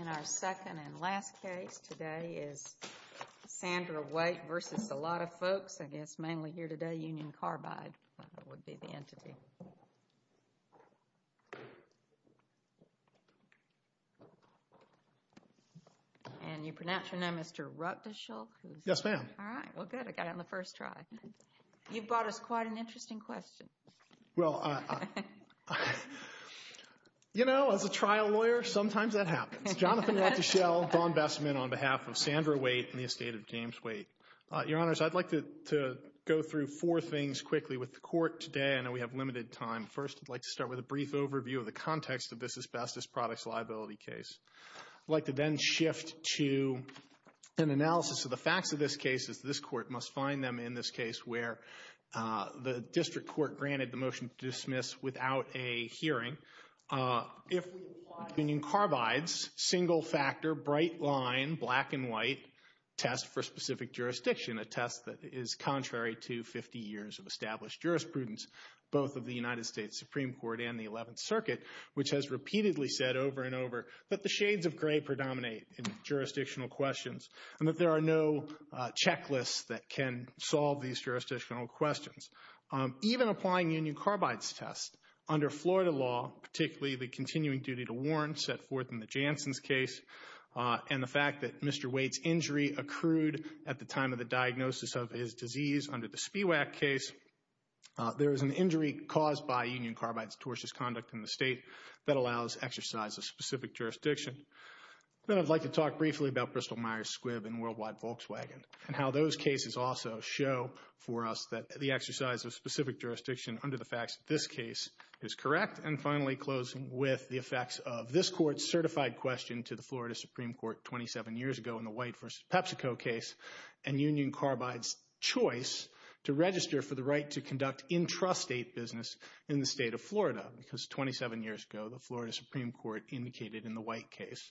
In our second and last case today is Sandra White versus a lot of folks I guess mainly here today, Union Carbide would be the entity. And you pronounce your name Mr. Rutgeschulke? Yes ma'am. All right, well good, I got it on the first try. You've brought us quite an interesting question. Well, you know as a trial lawyer sometimes that happens. Jonathan Rutgeschulke, Dawn Bestman on behalf of Sandra White and the estate of James White. Your honors, I'd like to go through four things quickly with the court today. I know we have limited time. First, I'd like to start with a brief overview of the context of this asbestos products liability case. I'd like to then shift to an analysis of the facts of this case as this court must find them in this case where the district court granted the Union Carbide's single-factor bright-line black-and-white test for specific jurisdiction. A test that is contrary to 50 years of established jurisprudence both of the United States Supreme Court and the 11th Circuit which has repeatedly said over and over that the shades of gray predominate in jurisdictional questions and that there are no checklists that can solve these jurisdictional questions. Even applying Union Carbide's test under Florida law, particularly the continuing duty to warrant set forth in the Janssen's case and the fact that Mr. Waite's injury accrued at the time of the diagnosis of his disease under the Spiewak case, there is an injury caused by Union Carbide's tortious conduct in the state that allows exercise of specific jurisdiction. Then I'd like to talk briefly about Bristol-Myers Squibb and Worldwide Volkswagen and how those cases also show for us that the exercise of specific jurisdiction under the facts of this case is correct. And finally closing with the effects of this court's certified question to the Florida Supreme Court 27 years ago in the Waite versus PepsiCo case and Union Carbide's choice to register for the right to conduct intrastate business in the state of Florida. Because 27 years ago the Florida Supreme Court indicated in the Waite case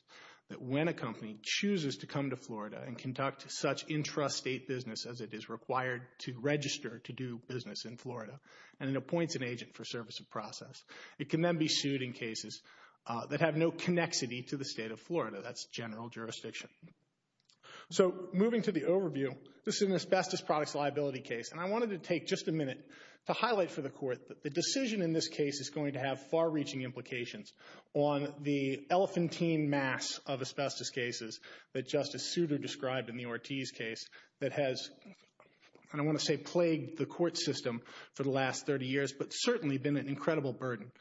that when a company chooses to come to Florida and conduct such intrastate business as it is required to register to do business in Florida and it appoints an agent for service of process, it can then be sued in cases that have no connexity to the state of Florida. That's general jurisdiction. So moving to the overview, this is an asbestos products liability case and I wanted to take just a minute to highlight for the court that the decision in this case is going to have far-reaching implications on the elephantine mass of asbestos cases that Justice Souter described in the Ortiz case that has, I don't want to say plagued the court system for the last 30 years, but certainly been an incredible burden.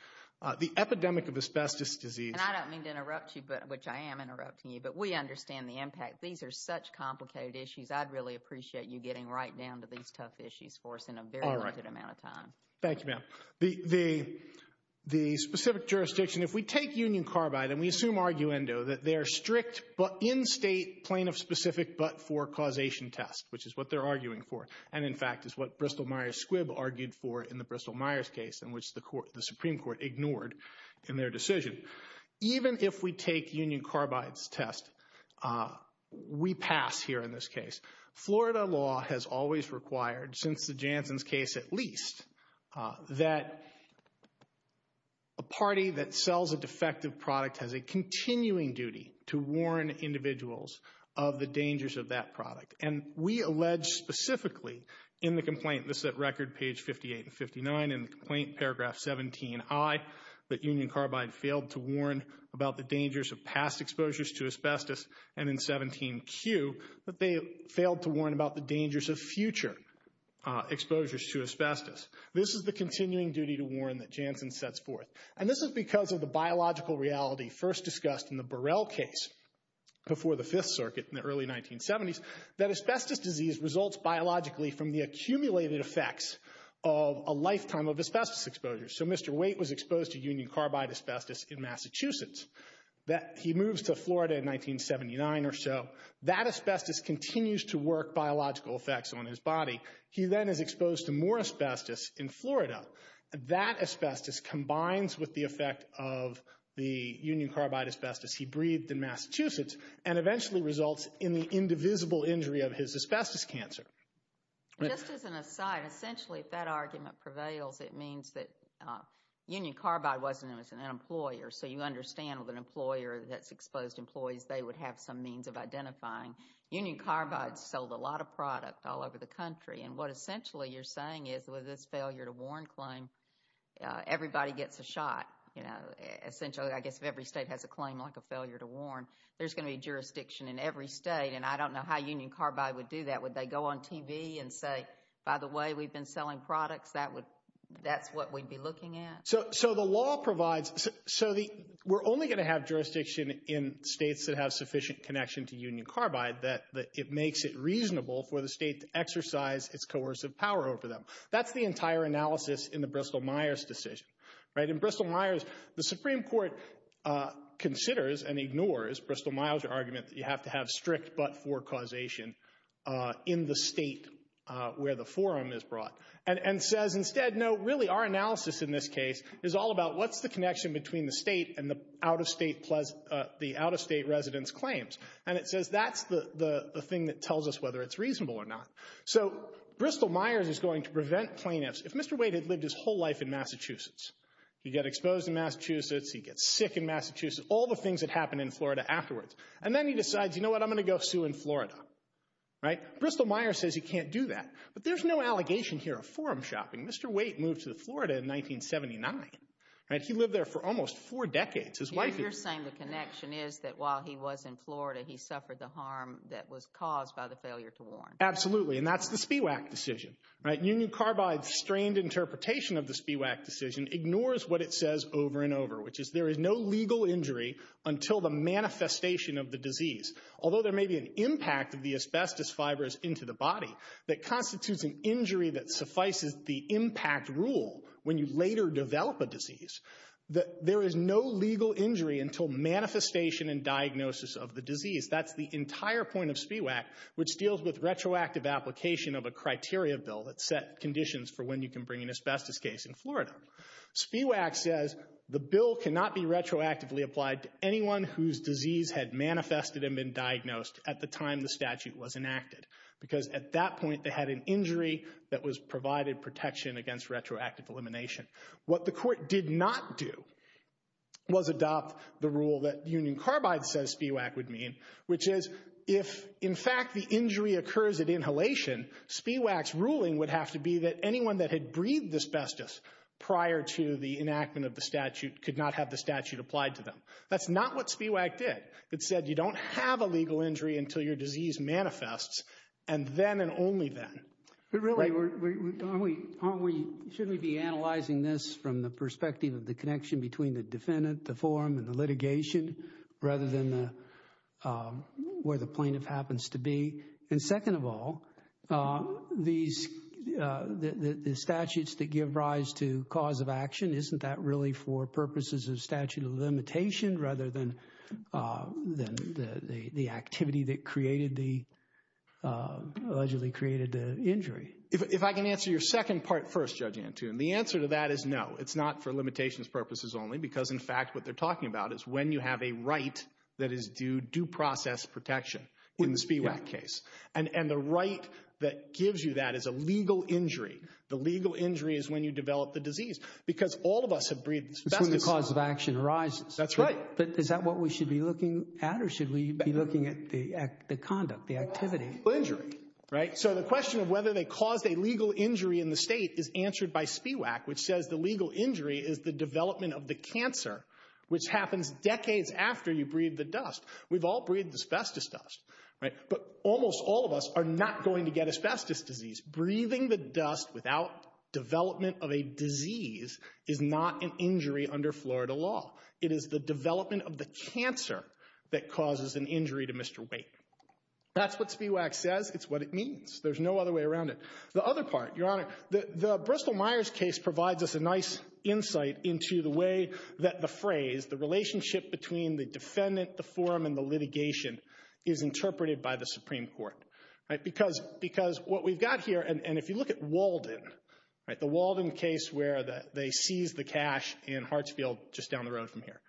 The epidemic of asbestos disease... And I don't mean to interrupt you, which I am interrupting you, but we understand the impact. These are such complicated issues I'd really appreciate you getting right down to these tough issues for us in a very limited amount of time. Thank you ma'am. The specific jurisdiction, if we take Union Carbide and we assume arguendo that they're strict but in-state plaintiff specific but for causation test, which is what they're arguing for, and in fact is what Bristol Myers Squibb argued for in the Bristol Myers case in which the Supreme Court ignored in their decision. Even if we take Union Carbide's test, we pass here in this case. Florida law has always required, since the effective product has a continuing duty to warn individuals of the dangers of that product. And we allege specifically in the complaint, this is at record page 58 and 59 in the complaint, paragraph 17i, that Union Carbide failed to warn about the dangers of past exposures to asbestos and in 17q, that they failed to warn about the dangers of future exposures to asbestos. This is the continuing duty to biological reality first discussed in the Burrell case before the Fifth Circuit in the early 1970s, that asbestos disease results biologically from the accumulated effects of a lifetime of asbestos exposure. So Mr. Waite was exposed to Union Carbide asbestos in Massachusetts. He moves to Florida in 1979 or so. That asbestos continues to work biological effects on his body. He then is exposed to more asbestos in Florida. That asbestos combines with the Union Carbide asbestos he breathed in Massachusetts and eventually results in the indivisible injury of his asbestos cancer. Just as an aside, essentially if that argument prevails, it means that Union Carbide wasn't an employer. So you understand with an employer that's exposed employees, they would have some means of identifying. Union Carbide sold a lot of product all over the country. And what essentially you're saying is with this I guess if every state has a claim like a failure to warn, there's going to be jurisdiction in every state. And I don't know how Union Carbide would do that. Would they go on TV and say, by the way we've been selling products, that's what we'd be looking at? So the law provides, so we're only going to have jurisdiction in states that have sufficient connection to Union Carbide that it makes it reasonable for the state to exercise its coercive power over them. That's the entire analysis in the Bristol-Myers decision, right? In which the court considers and ignores Bristol-Myers' argument that you have to have strict but-for causation in the state where the forum is brought. And says instead, no, really our analysis in this case is all about what's the connection between the state and the out-of-state residents' claims. And it says that's the thing that tells us whether it's reasonable or not. So Bristol-Myers is going to prevent plaintiffs. If Mr. Wade had lived his whole life in Massachusetts, he'd get exposed in Massachusetts, he'd get sick in Massachusetts, all the things that happen in Florida afterwards. And then he decides, you know what, I'm going to go sue in Florida, right? Bristol-Myers says he can't do that. But there's no allegation here of forum shopping. Mr. Wade moved to Florida in 1979, right? He lived there for almost four decades. His wife... You're saying the connection is that while he was in Florida, he suffered the harm that was caused by the failure to warn. Absolutely. And that's the SPIWAC decision, right? Union Carbide's strained interpretation of the SPIWAC decision ignores what it says over and over, which is there is no legal injury until the manifestation of the disease. Although there may be an impact of the asbestos fibers into the body that constitutes an injury that suffices the impact rule when you later develop a disease, that there is no legal injury until manifestation and diagnosis of the disease. That's the entire point of SPIWAC, which deals with retroactive application of a criteria bill that set conditions for when you can bring an asbestos case in Florida. SPIWAC says the bill cannot be retroactively applied to anyone whose disease had manifested and been diagnosed at the time the statute was enacted because at that point they had an injury that was provided protection against retroactive elimination. What the court did not do was adopt the rule that Union Carbide says SPIWAC would mean, which is if in fact the injury occurs at inhalation, SPIWAC's ruling would have to be that anyone that had breathed asbestos prior to the enactment of the statute could not have the statute applied to them. That's not what SPIWAC did. It said you don't have a legal injury until your disease manifests, and then and only then. But really, shouldn't we be analyzing this from the perspective of the connection between the defendant, the forum, and the litigation, rather than where the plaintiff happens to be? And second of all, the statutes that give rise to cause of action, isn't that really for purposes of statute of limitation rather than the activity that allegedly created the injury? If I can answer your second part first, Judge Antoon, the answer to that is no. It's not for limitations purposes only, because in fact what they're talking about is when you have a right that is due due process protection in the SPIWAC case, and the right that gives you that is a legal injury. The legal injury is when you develop the disease, because all of us have breathed asbestos. That's when the cause of action arises. That's right. But is that what we should be looking at, or should we be looking at the conduct, the activity? Legal injury, right? So the question of whether they caused a legal injury in the state is answered by SPIWAC, which says the legal injury is the development of the cancer, which happens decades after you breathe the dust. We've all breathed asbestos dust, right? But almost all of us are not going to get asbestos disease. Breathing the dust without development of a disease is not an injury under Florida law. It is the development of the cancer that causes an injury to Mr. Wake. That's what SPIWAC says. It's what it means. There's no other way around it. The other part, Your Honor, the Bristol Myers case provides us a nice insight into the way that the phrase, the relationship between the defendant, the forum, and the litigation is interpreted by the Supreme Court, right? Because what we've got here, and if you look at Walden, right, the Walden case where they seized the cash in Hartsfield just down the road from here,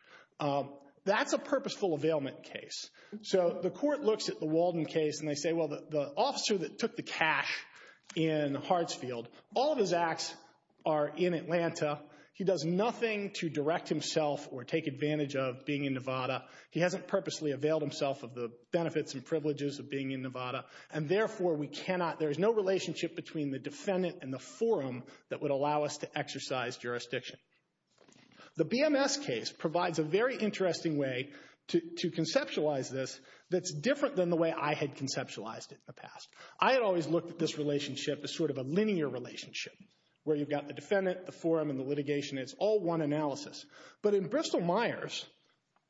that's a purposeful availment case. So the court looks at the Walden case and they say, well, the officer that took the cash in Hartsfield, all of his acts are in Atlanta. He does nothing to direct himself or take advantage of being in Nevada. He hasn't purposely availed himself of the benefits and privileges of being in Nevada and therefore we cannot, there is no relationship between the defendant and the forum that would allow us to exercise jurisdiction. The BMS case provides a very interesting way to conceptualize this that's different than the way I had conceptualized it in the past. I had always looked at this relationship as sort of a linear relationship where you've got the defendant, the forum, and the litigation. It's all one analysis. But in Bristol-Myers,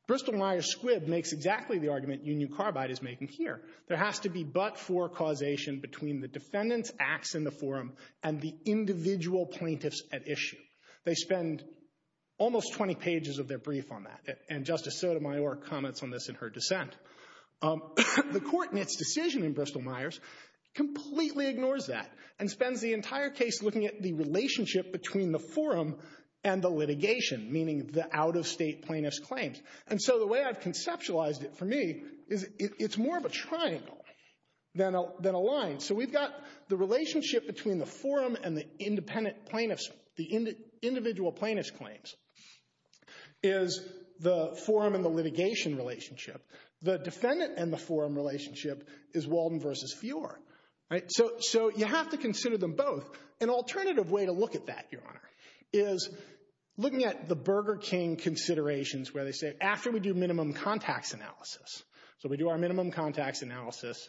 Bristol-Myers Squibb makes exactly the argument you knew Carbide is making here. There has to be but-for causation between the defendant's acts in the forum and the individual plaintiffs at issue. They spend almost 20 pages of their brief on that, and Justice Sotomayor comments on this in her dissent. The court in its decision in Bristol-Myers completely ignores that and spends the entire case looking at the relationship between the forum and the litigation, meaning the out-of-state plaintiff's claims. And so the way I've conceptualized it for me is it's more of a triangle than a line. So we've got the relationship between the forum and the independent plaintiffs, the individual plaintiff's claims, is the forum and the litigation relationship. The defendant and the forum relationship is Walden versus Feore, right? So you have to consider them both. An alternative way to look at that, Your Honor, is looking at the Burger King considerations where they say after we do minimum contacts analysis, so we do our minimum contacts analysis,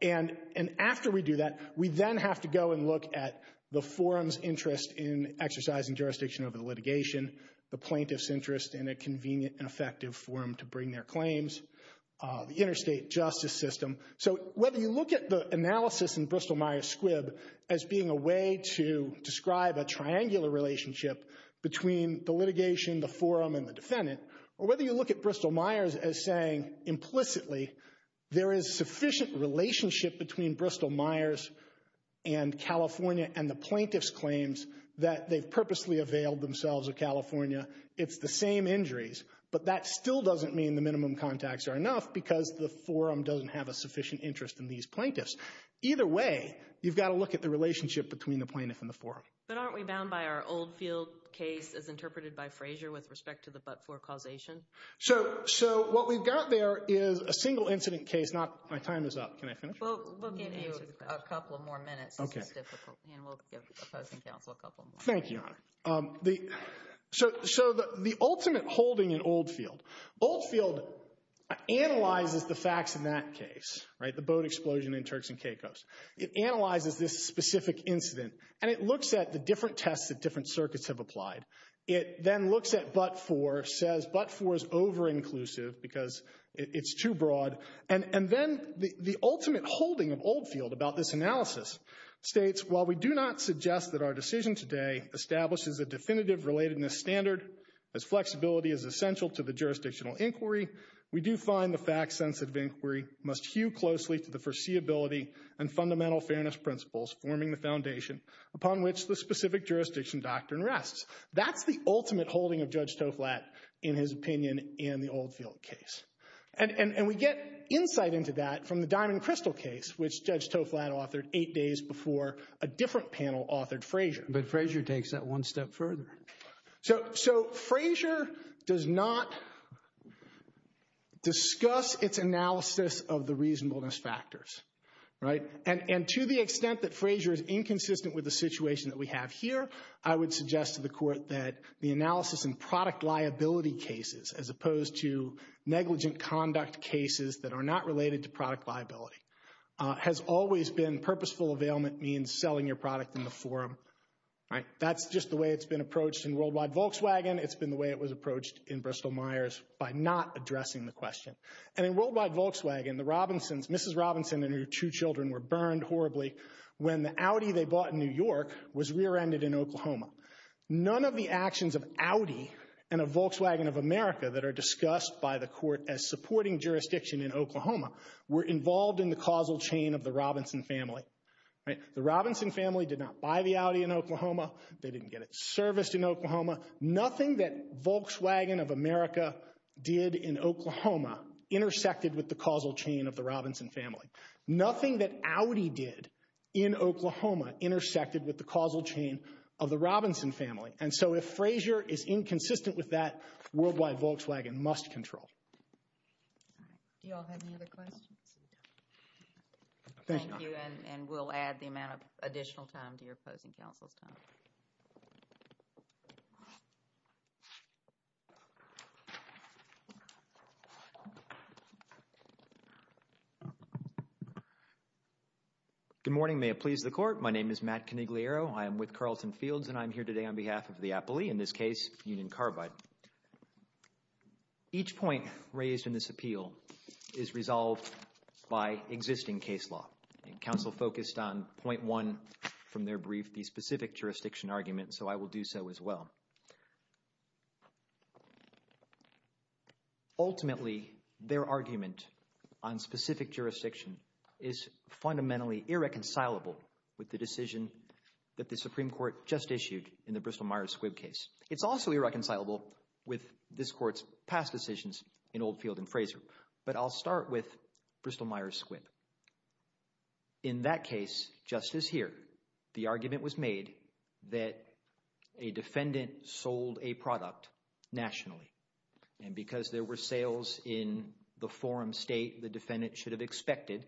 and after we do that, we then have to go and look at the forum's interest in exercising jurisdiction over the litigation, the plaintiff's interest in a convenient and effective forum to bring their claims, the interstate justice system. So whether you look at the analysis in Bristol-Myers Squibb as being a way to describe a triangular relationship between the litigation, the forum, and the defendant, or whether you look at Bristol-Myers as saying implicitly there is sufficient relationship between Bristol-Myers and California and the plaintiff's claims that they've purposely availed themselves of California, it's the same injuries, but that still doesn't mean the minimum contacts are enough because the forum doesn't have a sufficient interest in these plaintiffs. Either way, you've got to look at the relationship between the plaintiff and the forum. But aren't we bound by our Oldfield case as interpreted by Frazier with respect to the but-for causation? So what we've got there is a single incident case, not, my time is up, can I finish? We'll give you a couple more minutes, it's difficult, and we'll give opposing counsel a couple more. Thank you, Your Honor. So the ultimate holding in Oldfield, Oldfield analyzes the facts in that case, right, the boat explosion in Turks and Caicos. It analyzes this specific incident and it looks at the different tests that different circuits have applied. It then looks at but-for, says but-for is over-inclusive because it's too broad, and then the ultimate holding of Oldfield about this analysis states, while we do not suggest that our decision today establishes a definitive relatedness standard, as flexibility is essential to the jurisdictional inquiry, we do find the fact-sensitive inquiry must hew closely to the foreseeability and fundamental fairness principles forming the foundation upon which the specific jurisdiction doctrine rests. That's the ultimate holding of Judge Toflat in his opinion in the Oldfield case. And we get insight into that from the Diamond and Crystal case, which Judge Toflat authored eight days before a different panel authored Frazier. But Frazier takes that one step further. So Frazier does not discuss its analysis of the reasonableness factors, right, and to the extent that Frazier is inconsistent with the situation that we have here, I would suggest to the Court that the analysis in product liability cases as opposed to negligent conduct cases that are not related to product liability has always been purposeful availment means selling your product in the forum right. That's just the way it's been approached in Worldwide Volkswagen. It's been the way it was approached in Bristol Myers by not addressing the question. And in Worldwide Volkswagen, the Robinsons, Mrs. Robinson and her two children were burned horribly when the Audi they bought in New York was rear-ended in Oklahoma. None of the actions of Audi and of Volkswagen of America that are discussed by the Court as supporting jurisdiction in Oklahoma were involved in the causal chain of the Robinson family. Right. The Robinson family did not buy the Audi in Oklahoma. They didn't get it serviced in Oklahoma. Nothing that Volkswagen of America did in Oklahoma intersected with the causal chain of the Robinson family. Nothing that Audi did in Oklahoma intersected with the causal chain of the Robinson family. And so if Frazier is inconsistent with that, Worldwide Volkswagen must control. All right. Do you all have any other questions? Thank you. And we'll add the amount of additional time to your opposing counsel's time. Good morning. May it please the Court. My name is Matt Canigliaro. I am with Carlton Fields and I'm here today on behalf of the appellee, in this case Union Carbide. Each point raised in this appeal is resolved by existing case law. And counsel focused on point one from their brief, the specific jurisdiction argument, so I will do so as well. Ultimately, their argument on specific jurisdiction is fundamentally irreconcilable with the decision that the Supreme Court just issued in the Bristol Myers Squibb case. It's also irreconcilable with this Court's past decisions in Oldfield and Frazier, but I'll start with Bristol Myers Squibb. In that case, just as here, the argument was made that a defendant sold a product nationally. And because there were sales in the forum state, the defendant should have expected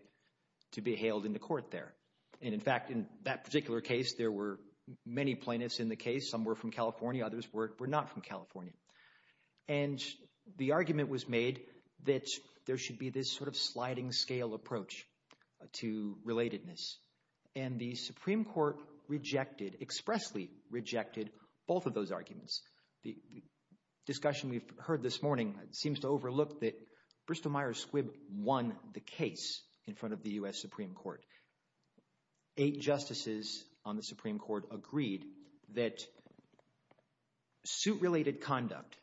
to be hailed into court there. And in fact, in that particular case, there were many plaintiffs in the case. Some were from California, others were not from California. And the argument was made that there should be this sort of sliding scale approach to relatedness. And the Supreme Court rejected, expressly rejected, both of those arguments. The discussion we've heard this morning seems to overlook that Bristol Myers Squibb won the case in front of the U.S. Supreme Court. Eight justices on the Supreme Court agreed that suit-related conduct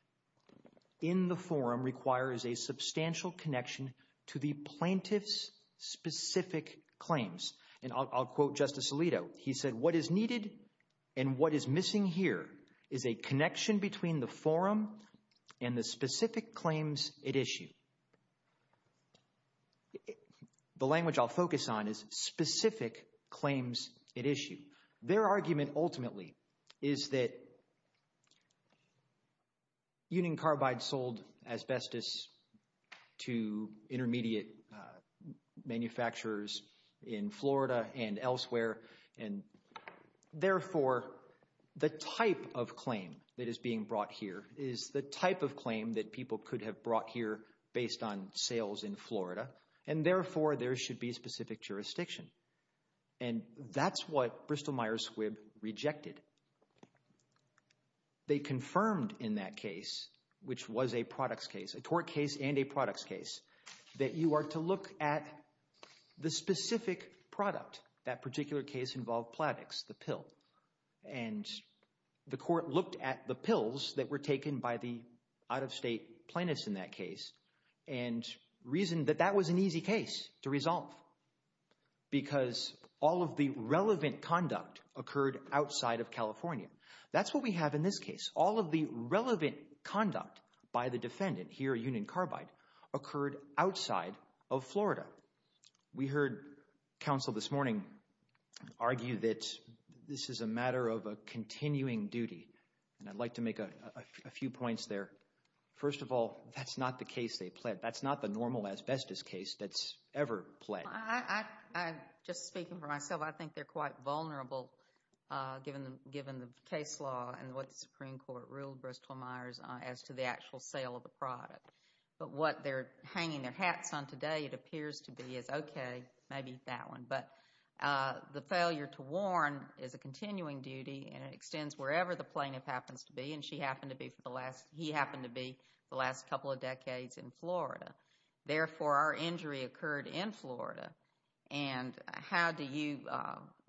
in the forum requires a substantial connection to the plaintiff's specific claims. And I'll quote Justice Alito. He said, What is needed and what is missing here is a connection between the forum and the specific claims it issue. The language I'll focus on is specific claims it issue. Their argument ultimately is that union carbide sold asbestos to intermediate manufacturers in Florida and elsewhere. And therefore, the type of claim that is being brought here is the type of claim that people could have brought here based on sales in Florida. And therefore, there should be specific jurisdiction. And that's what Bristol Myers Squibb rejected. They confirmed in that case, which was a products case, a tort case and a products case, that you are to look at the specific product. That particular case involved Plavix, the pill. And the court looked at the pills that were taken by the out-of-state plaintiffs in that case and reasoned that that was an easy case to resolve. Because all of the relevant conduct occurred outside of California. That's what we have in this case. All of the relevant conduct by the defendant, here union carbide, occurred outside of Florida. We heard counsel this morning argue that this is a matter of a continuing duty. And I'd like to make a few points there. First of all, that's not the case they pled. That's not the normal asbestos case that's ever pled. I, just speaking for myself, I think they're quite vulnerable given the case law and what the Supreme Court ruled Bristol Myers as to the actual sale of the product. But what they're hanging their hats on today, it appears to be, is okay, maybe that one. But the failure to warn is a continuing duty and it extends wherever the plaintiff happens to be. And she happened to be for the last, he happened to be, the last couple of decades in Florida. Therefore, our injury occurred in Florida. And how do you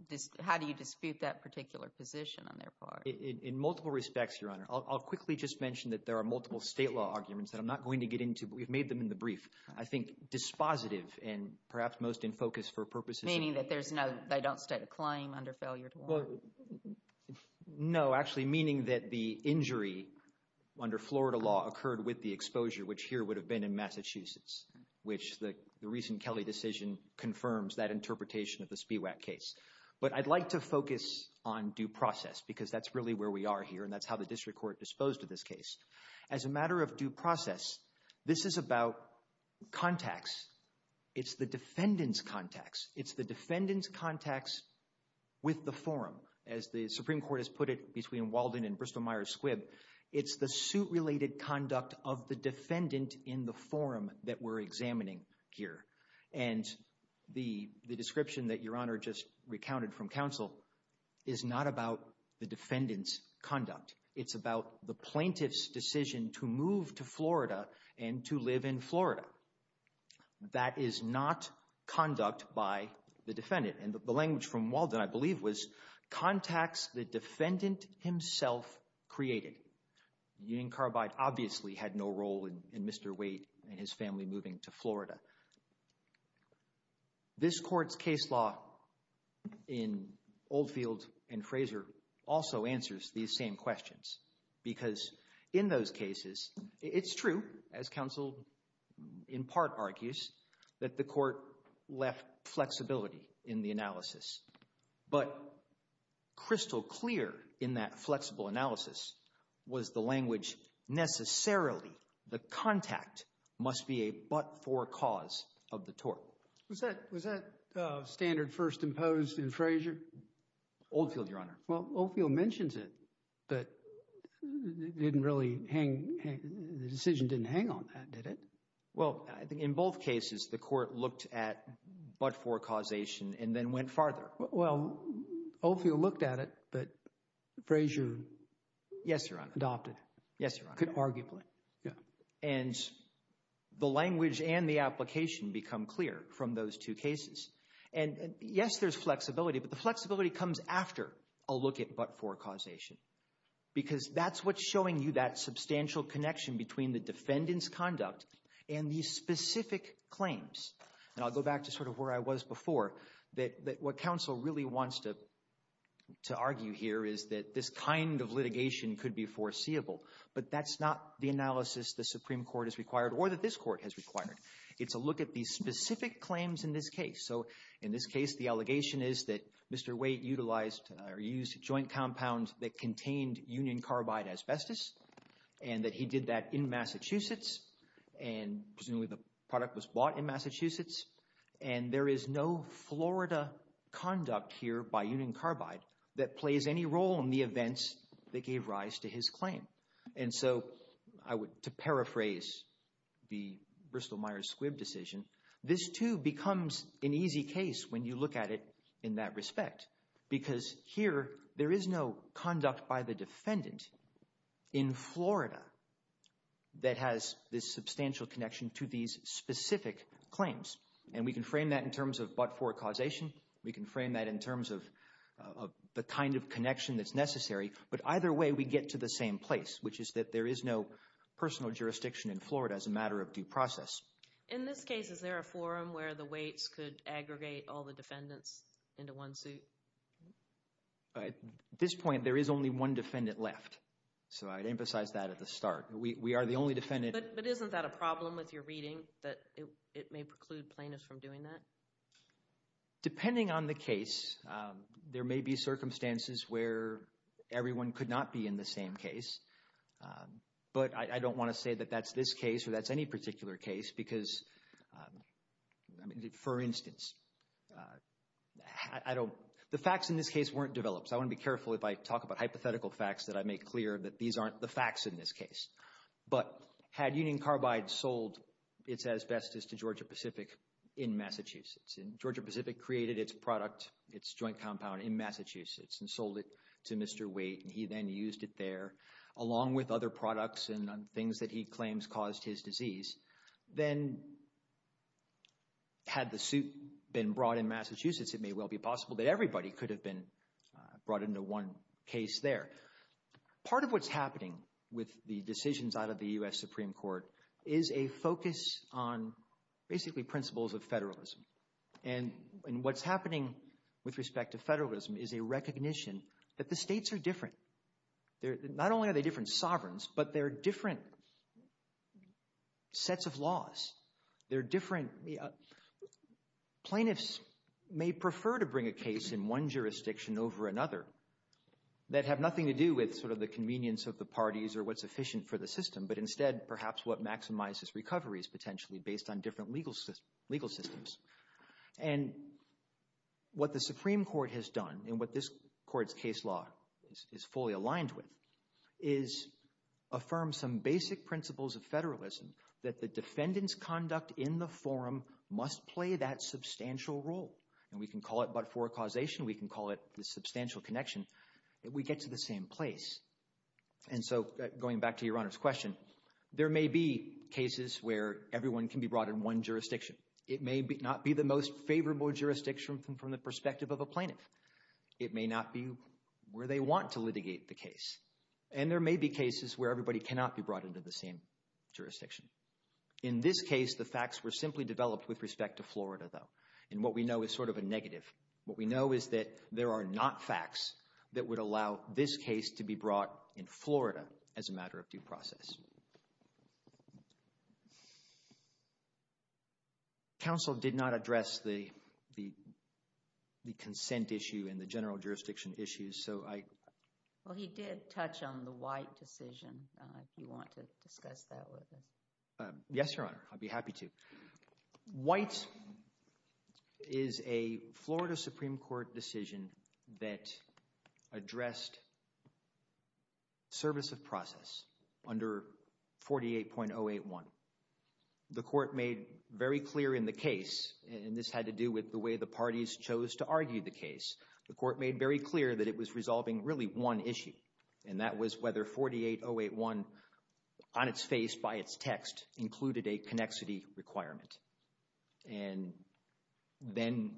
dispute that particular position on their part? In multiple respects, Your Honor, I'll quickly just mention that there are multiple state law arguments that I'm not going to get into, but we've made them in the brief. I think dispositive and perhaps most in focus for purposes... Meaning that there's no, they don't state a claim under failure to warn? Well, no, actually meaning that the injury under Florida law occurred with the exposure, which here would have been in Massachusetts, which the recent Kelly decision confirms that interpretation of the SPIWAC case. But I'd like to focus on due process because that's really where we are here and that's how the district court disposed of this case. As a matter of due process, this is about contacts. It's the defendant's contacts. It's the defendant's contacts with the forum. As the Supreme Court has put it between Walden and Bristol-Myers Squibb, it's the suit-related conduct of the defendant in the forum that we're examining here. And the description that Your Honor just recounted from counsel is not about the defendant's conduct. It's about the plaintiff's decision to move to Florida and to live in Florida. That is not conduct by the defendant. And the language from Walden, I believe, was contacts the defendant himself created. Union Carbide obviously had no role in Mr. Wade and his family moving to Florida. This court's case law in Oldfield and Fraser also answers these same questions because in those cases, it's true, as counsel in part argues, that the court left flexibility in the analysis. But crystal clear in that flexible analysis was the language necessarily the contact must be a but-for cause of the tort. Was that standard first imposed in Fraser? Oldfield, Your Honor. Well, Oldfield mentions it, but the decision didn't hang on that, did it? Well, I think in both cases, the court looked at but-for causation and then went farther. Well, Oldfield looked at it, but Fraser adopted. Yes, Your Honor. Arguably, yeah. And the language and the application become clear from those two cases. And yes, there's flexibility, but the flexibility comes after a look at but-for causation because that's what's showing you that substantial connection between the defendant's conduct and these specific claims. And I'll go back to sort of where I was before, that what counsel really wants to argue here is that this kind of litigation could be foreseeable, but that's not the analysis the Supreme Court has required or that this court has required. It's a look at these specific claims in this case. In this case, the allegation is that Mr. Waite utilized or used a joint compound that contained union carbide asbestos and that he did that in Massachusetts. And presumably, the product was bought in Massachusetts. And there is no Florida conduct here by union carbide that plays any role in the events that gave rise to his claim. And so, to paraphrase the Bristol-Myers-Squibb decision, this too becomes an easy case when you look at it in that respect because here there is no conduct by the defendant in Florida that has this substantial connection to these specific claims. And we can frame that in terms of but-for causation. We can frame that in terms of the kind of connection that's necessary. But either way, we get to the same place, which is that there is no personal jurisdiction in Florida as a matter of due process. In this case, is there a forum where the Waites could aggregate all the defendants into one suit? At this point, there is only one defendant left. So, I'd emphasize that at the start. We are the only defendant... But isn't that a problem with your reading that it may preclude plaintiffs from doing that? Depending on the case, there may be circumstances where everyone could not be in the same case. But I don't want to say that that's this case or that's any particular case. I mean, for instance, the facts in this case weren't developed. I want to be careful if I talk about hypothetical facts that I make clear that these aren't the facts in this case. But had Union Carbide sold its asbestos to Georgia-Pacific in Massachusetts and Georgia-Pacific created its product, its joint compound in Massachusetts and sold it to Mr. Waite and he then used it there along with other products and things that he claims caused his disease, then had the suit been brought in Massachusetts, it may well be possible that everybody could have been brought into one case there. Part of what's happening with the decisions out of the U.S. Supreme Court is a focus on basically principles of federalism. And what's happening with respect to federalism is a recognition that the states are different. Not only are they different sovereigns, but they're different sets of laws. They're different... Plaintiffs may prefer to bring a case in one jurisdiction over another that have nothing to do with sort of the convenience of the parties or what's efficient for the system, but instead perhaps what maximizes recovery is potentially based on different legal systems. And what the Supreme Court has done and what this court's case law is fully aligned with is affirm some basic principles of federalism that the defendant's conduct in the forum must play that substantial role. And we can call it but-for causation. We can call it the substantial connection. We get to the same place. And so going back to Your Honor's question, there may be cases where everyone can be brought in one jurisdiction. It may not be the most favorable jurisdiction from the perspective of a plaintiff. It may not be where they want to litigate the case. And there may be cases where everybody cannot be brought into the same jurisdiction. In this case, the facts were simply developed with respect to Florida, though. And what we know is sort of a negative. What we know is that there are not facts that would allow this case to be brought in Florida as a matter of due process. Counsel did not address the consent issue and the general jurisdiction issues, so I... Well, he did touch on the White decision, if you want to discuss that with us. Yes, Your Honor. I'd be happy to. White is a Florida Supreme Court decision that addressed service of process under 48.081. The court made very clear in the case, and this had to do with the way the parties chose to argue the case, the court made very clear that it was resolving really one issue, and that was whether 48.081, on its face, by its text, included a connexity requirement. And then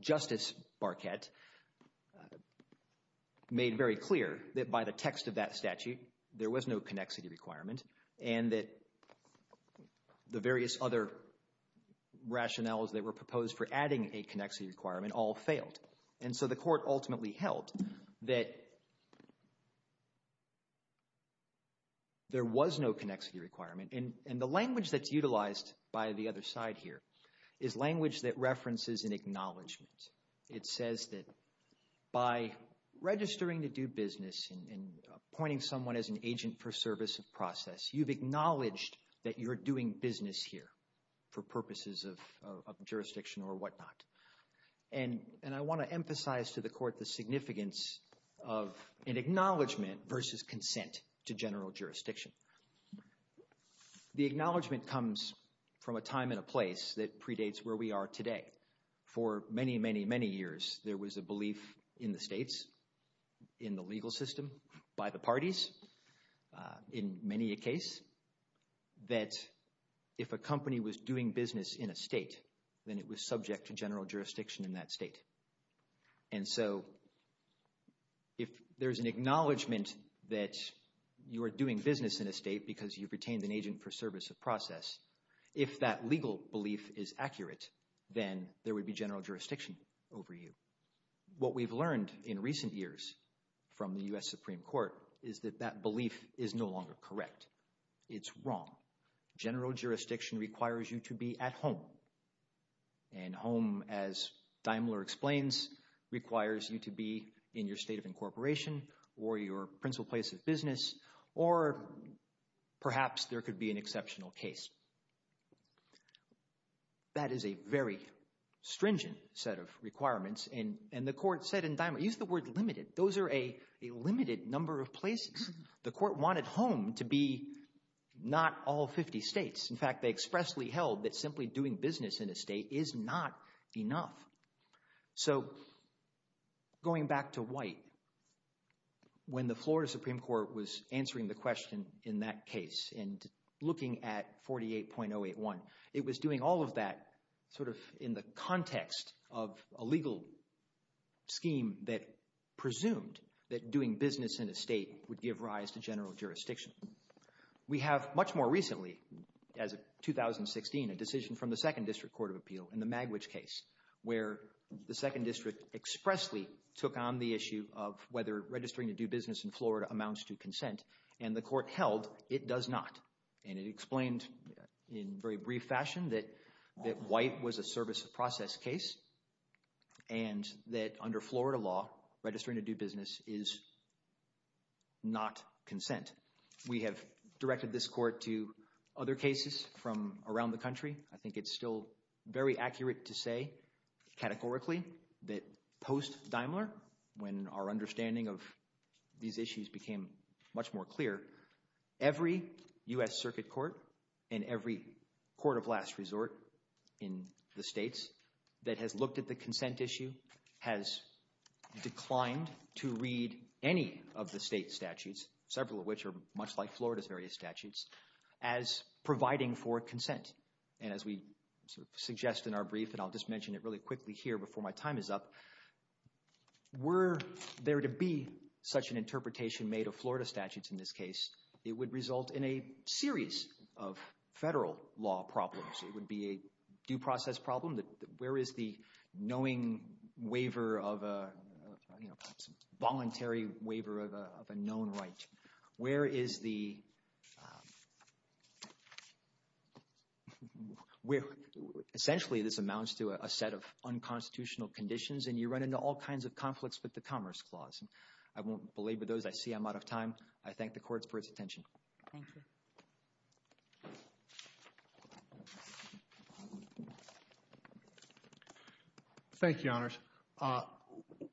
Justice Barquette made very clear that by the text of that statute, there was no connexity requirement, and that the various other rationales that were proposed for adding a connexity requirement all failed. And so the court ultimately held that there was no connexity requirement. And the language that's utilized by the other side here is language that references an acknowledgment. It says that by registering to do business and appointing someone as an agent for service of process, you've acknowledged that you're doing business here for purposes of jurisdiction or whatnot. And I want to emphasize to the court the significance of an acknowledgment versus consent to general jurisdiction. The acknowledgment comes from a time and a place that predates where we are today. For many, many, many years, there was a belief in the states, in the legal system, by the parties, in many a case, that if a company was doing business in a state, then it was subject to general jurisdiction in that state. And so if there's an acknowledgment that you are doing business in a state because you've retained an agent for service of process, if that legal belief is accurate, then there would be general jurisdiction over you. What we've learned in recent years from the U.S. Supreme Court is that that belief is no longer correct. It's wrong. General jurisdiction requires you to be at home. And home, as Daimler explains, requires you to be in your state of incorporation or your principal place of business, or perhaps there could be an exceptional case. That is a very stringent set of requirements. And the court said in Daimler, use the word limited. Those are a limited number of places. The court wanted home to be not all 50 states. In fact, they expressly held that simply doing business in a state is not enough. So going back to White, when the Florida Supreme Court was answering the question in that case and looking at 48.081, it was doing all of that in the context of a legal scheme that presumed that doing business in a state would give rise to general jurisdiction. We have much more recently, as of 2016, a decision from the Second District Court of Appeal in the Magwitch case where the Second District expressly took on the issue of whether registering to do business in Florida amounts to consent. And the court held it does not. And it explained in very brief fashion that White was a service of process case and that under Florida law, registering to do business is not consent. We have directed this court to other cases from around the country. I think it's still very accurate to say categorically that post-Daimler, when our understanding of these issues became much more clear, every U.S. Circuit Court and every court of last resort in the states that has looked at the consent issue has declined to read any of the state statutes, several of which are much like Florida's various statutes, as providing for consent. And as we sort of suggest in our brief, and I'll just mention it really quickly here before my time is up, were there to be such an interpretation made of Florida statutes in this case, it would result in a series of federal law problems. It would be a due process problem that where is the knowing waiver of a voluntary waiver of a known right? Where is the... Essentially, this amounts to a set of unconstitutional conditions and you run into all kinds of conflicts with the Commerce Clause. I won't belabor those. I see I'm out of time. I thank the courts for its attention. Thank you. Thank you, Your Honors.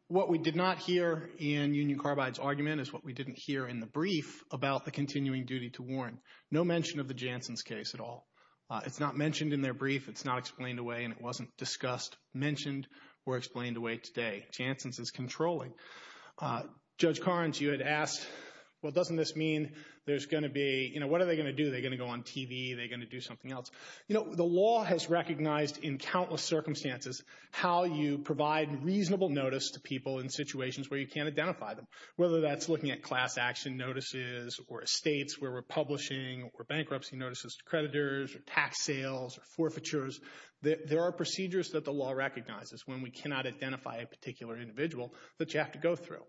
What we did not hear in Union Carbide's argument is what we didn't hear in the brief about the continuing duty to warrant. No mention of the Janssen's case at all. It's not mentioned in their brief. It's not explained away. And it wasn't discussed, mentioned or explained away today. Janssen's is controlling. Judge Carnes, you had asked, well, doesn't this mean there's going to be... What are they going to do? They're going to go on TV. They're going to do something else. The law has recognized in countless circumstances how you provide reasonable notice to people in situations where you can't identify them, whether that's looking at class action notices or estates where we're publishing or bankruptcy notices to creditors or tax sales or forfeitures. There are procedures that the law recognizes when we cannot identify a particular individual that you have to go through.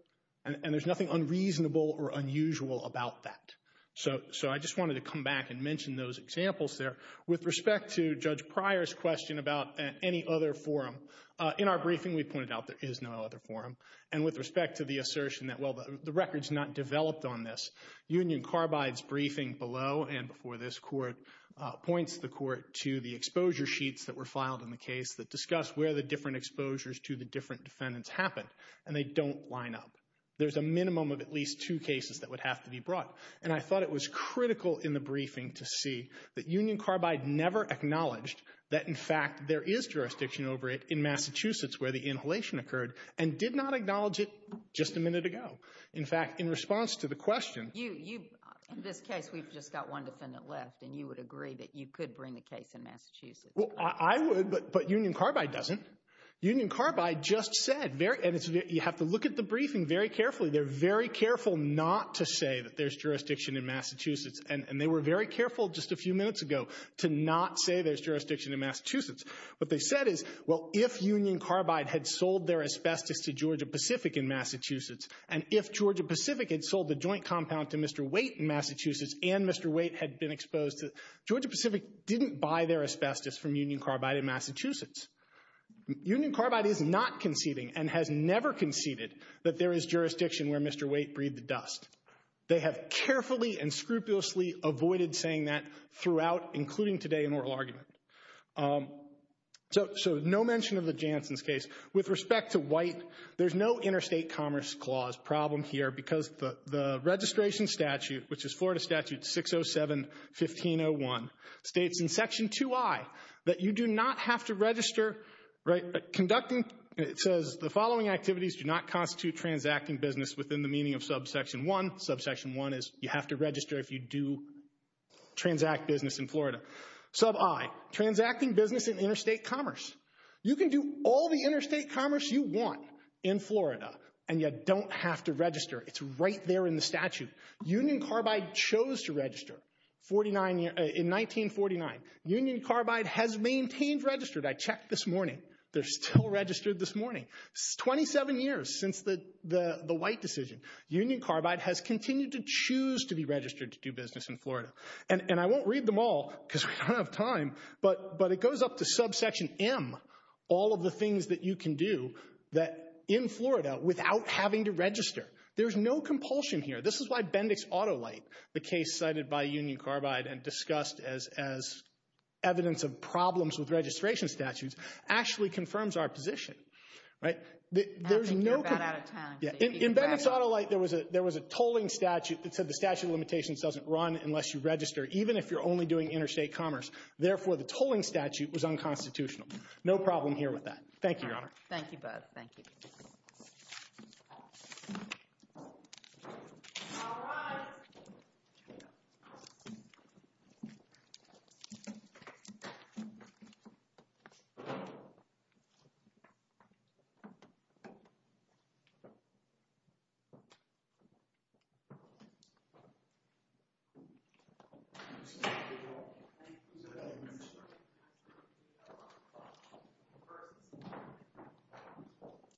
And there's nothing unreasonable or unusual about that. So I just wanted to come back and mention those examples there. With respect to Judge Pryor's question about any other forum, in our briefing, we pointed out there is no other forum. And with respect to the assertion that, well, the record's not developed on this, Union Carbide's briefing below and before this court points the court to the exposure sheets that were filed in the case that discuss where the different exposures to the different defendants happened. And they don't line up. There's a minimum of at least two cases that would have to be brought. And I thought it was critical in the briefing to see that Union Carbide never acknowledged that, in fact, there is jurisdiction over it in Massachusetts where the inhalation occurred and did not acknowledge it just a minute ago. In fact, in response to the question- You, in this case, we've just got one defendant left and you would agree that you could bring the case in Massachusetts. Well, I would, but Union Carbide doesn't. Union Carbide just said, and you have to look at the briefing very carefully, they're very careful not to say that there's jurisdiction in Massachusetts. And they were very careful just a few minutes ago to not say there's jurisdiction in Massachusetts. What they said is, well, if Union Carbide had sold their asbestos to Georgia-Pacific in Massachusetts, and if Georgia-Pacific had sold the joint compound to Mr. Waite in Massachusetts, and Mr. Waite had been exposed to- Georgia-Pacific didn't buy their asbestos from Union Carbide in Massachusetts. Union Carbide is not conceding and has never conceded that there is jurisdiction where Mr. Waite breathed the dust. They have carefully and scrupulously avoided saying that throughout, including today in oral argument. So no mention of the Janssen's case. With respect to Waite, there's no interstate commerce clause problem here because the registration statute, which is Florida Statute 607-1501, states in Section 2i that you do not have to register, right, conducting, it says, the following activities do not constitute transacting business within the meaning of Subsection 1. Subsection 1 is you have to register if you do transact business in Florida. Sub I, transacting business in interstate commerce. You can do all the interstate commerce you want in Florida and you don't have to register. It's right there in the statute. Union Carbide chose to register in 1949. Union Carbide has maintained registered. I checked this morning. They're still registered this morning. 27 years since the Waite decision. Union Carbide has continued to choose to be registered to do business in Florida. And I won't read them all because we don't have time, but it goes up to Subsection M, all of the things that you can do that in Florida without having to register. There's no compulsion here. This is why Bendix-AutoLite, the case cited by Union Carbide and discussed as evidence of problems with registration statutes, actually confirms our position, right? I think you're about out of time. In Bendix-AutoLite, there was a tolling statute that said the statute of limitations doesn't run unless you register, even if you're only doing interstate commerce. Therefore, the tolling statute was unconstitutional. No problem here with that. Thank you, Your Honor. Thank you, Bud. Thank you.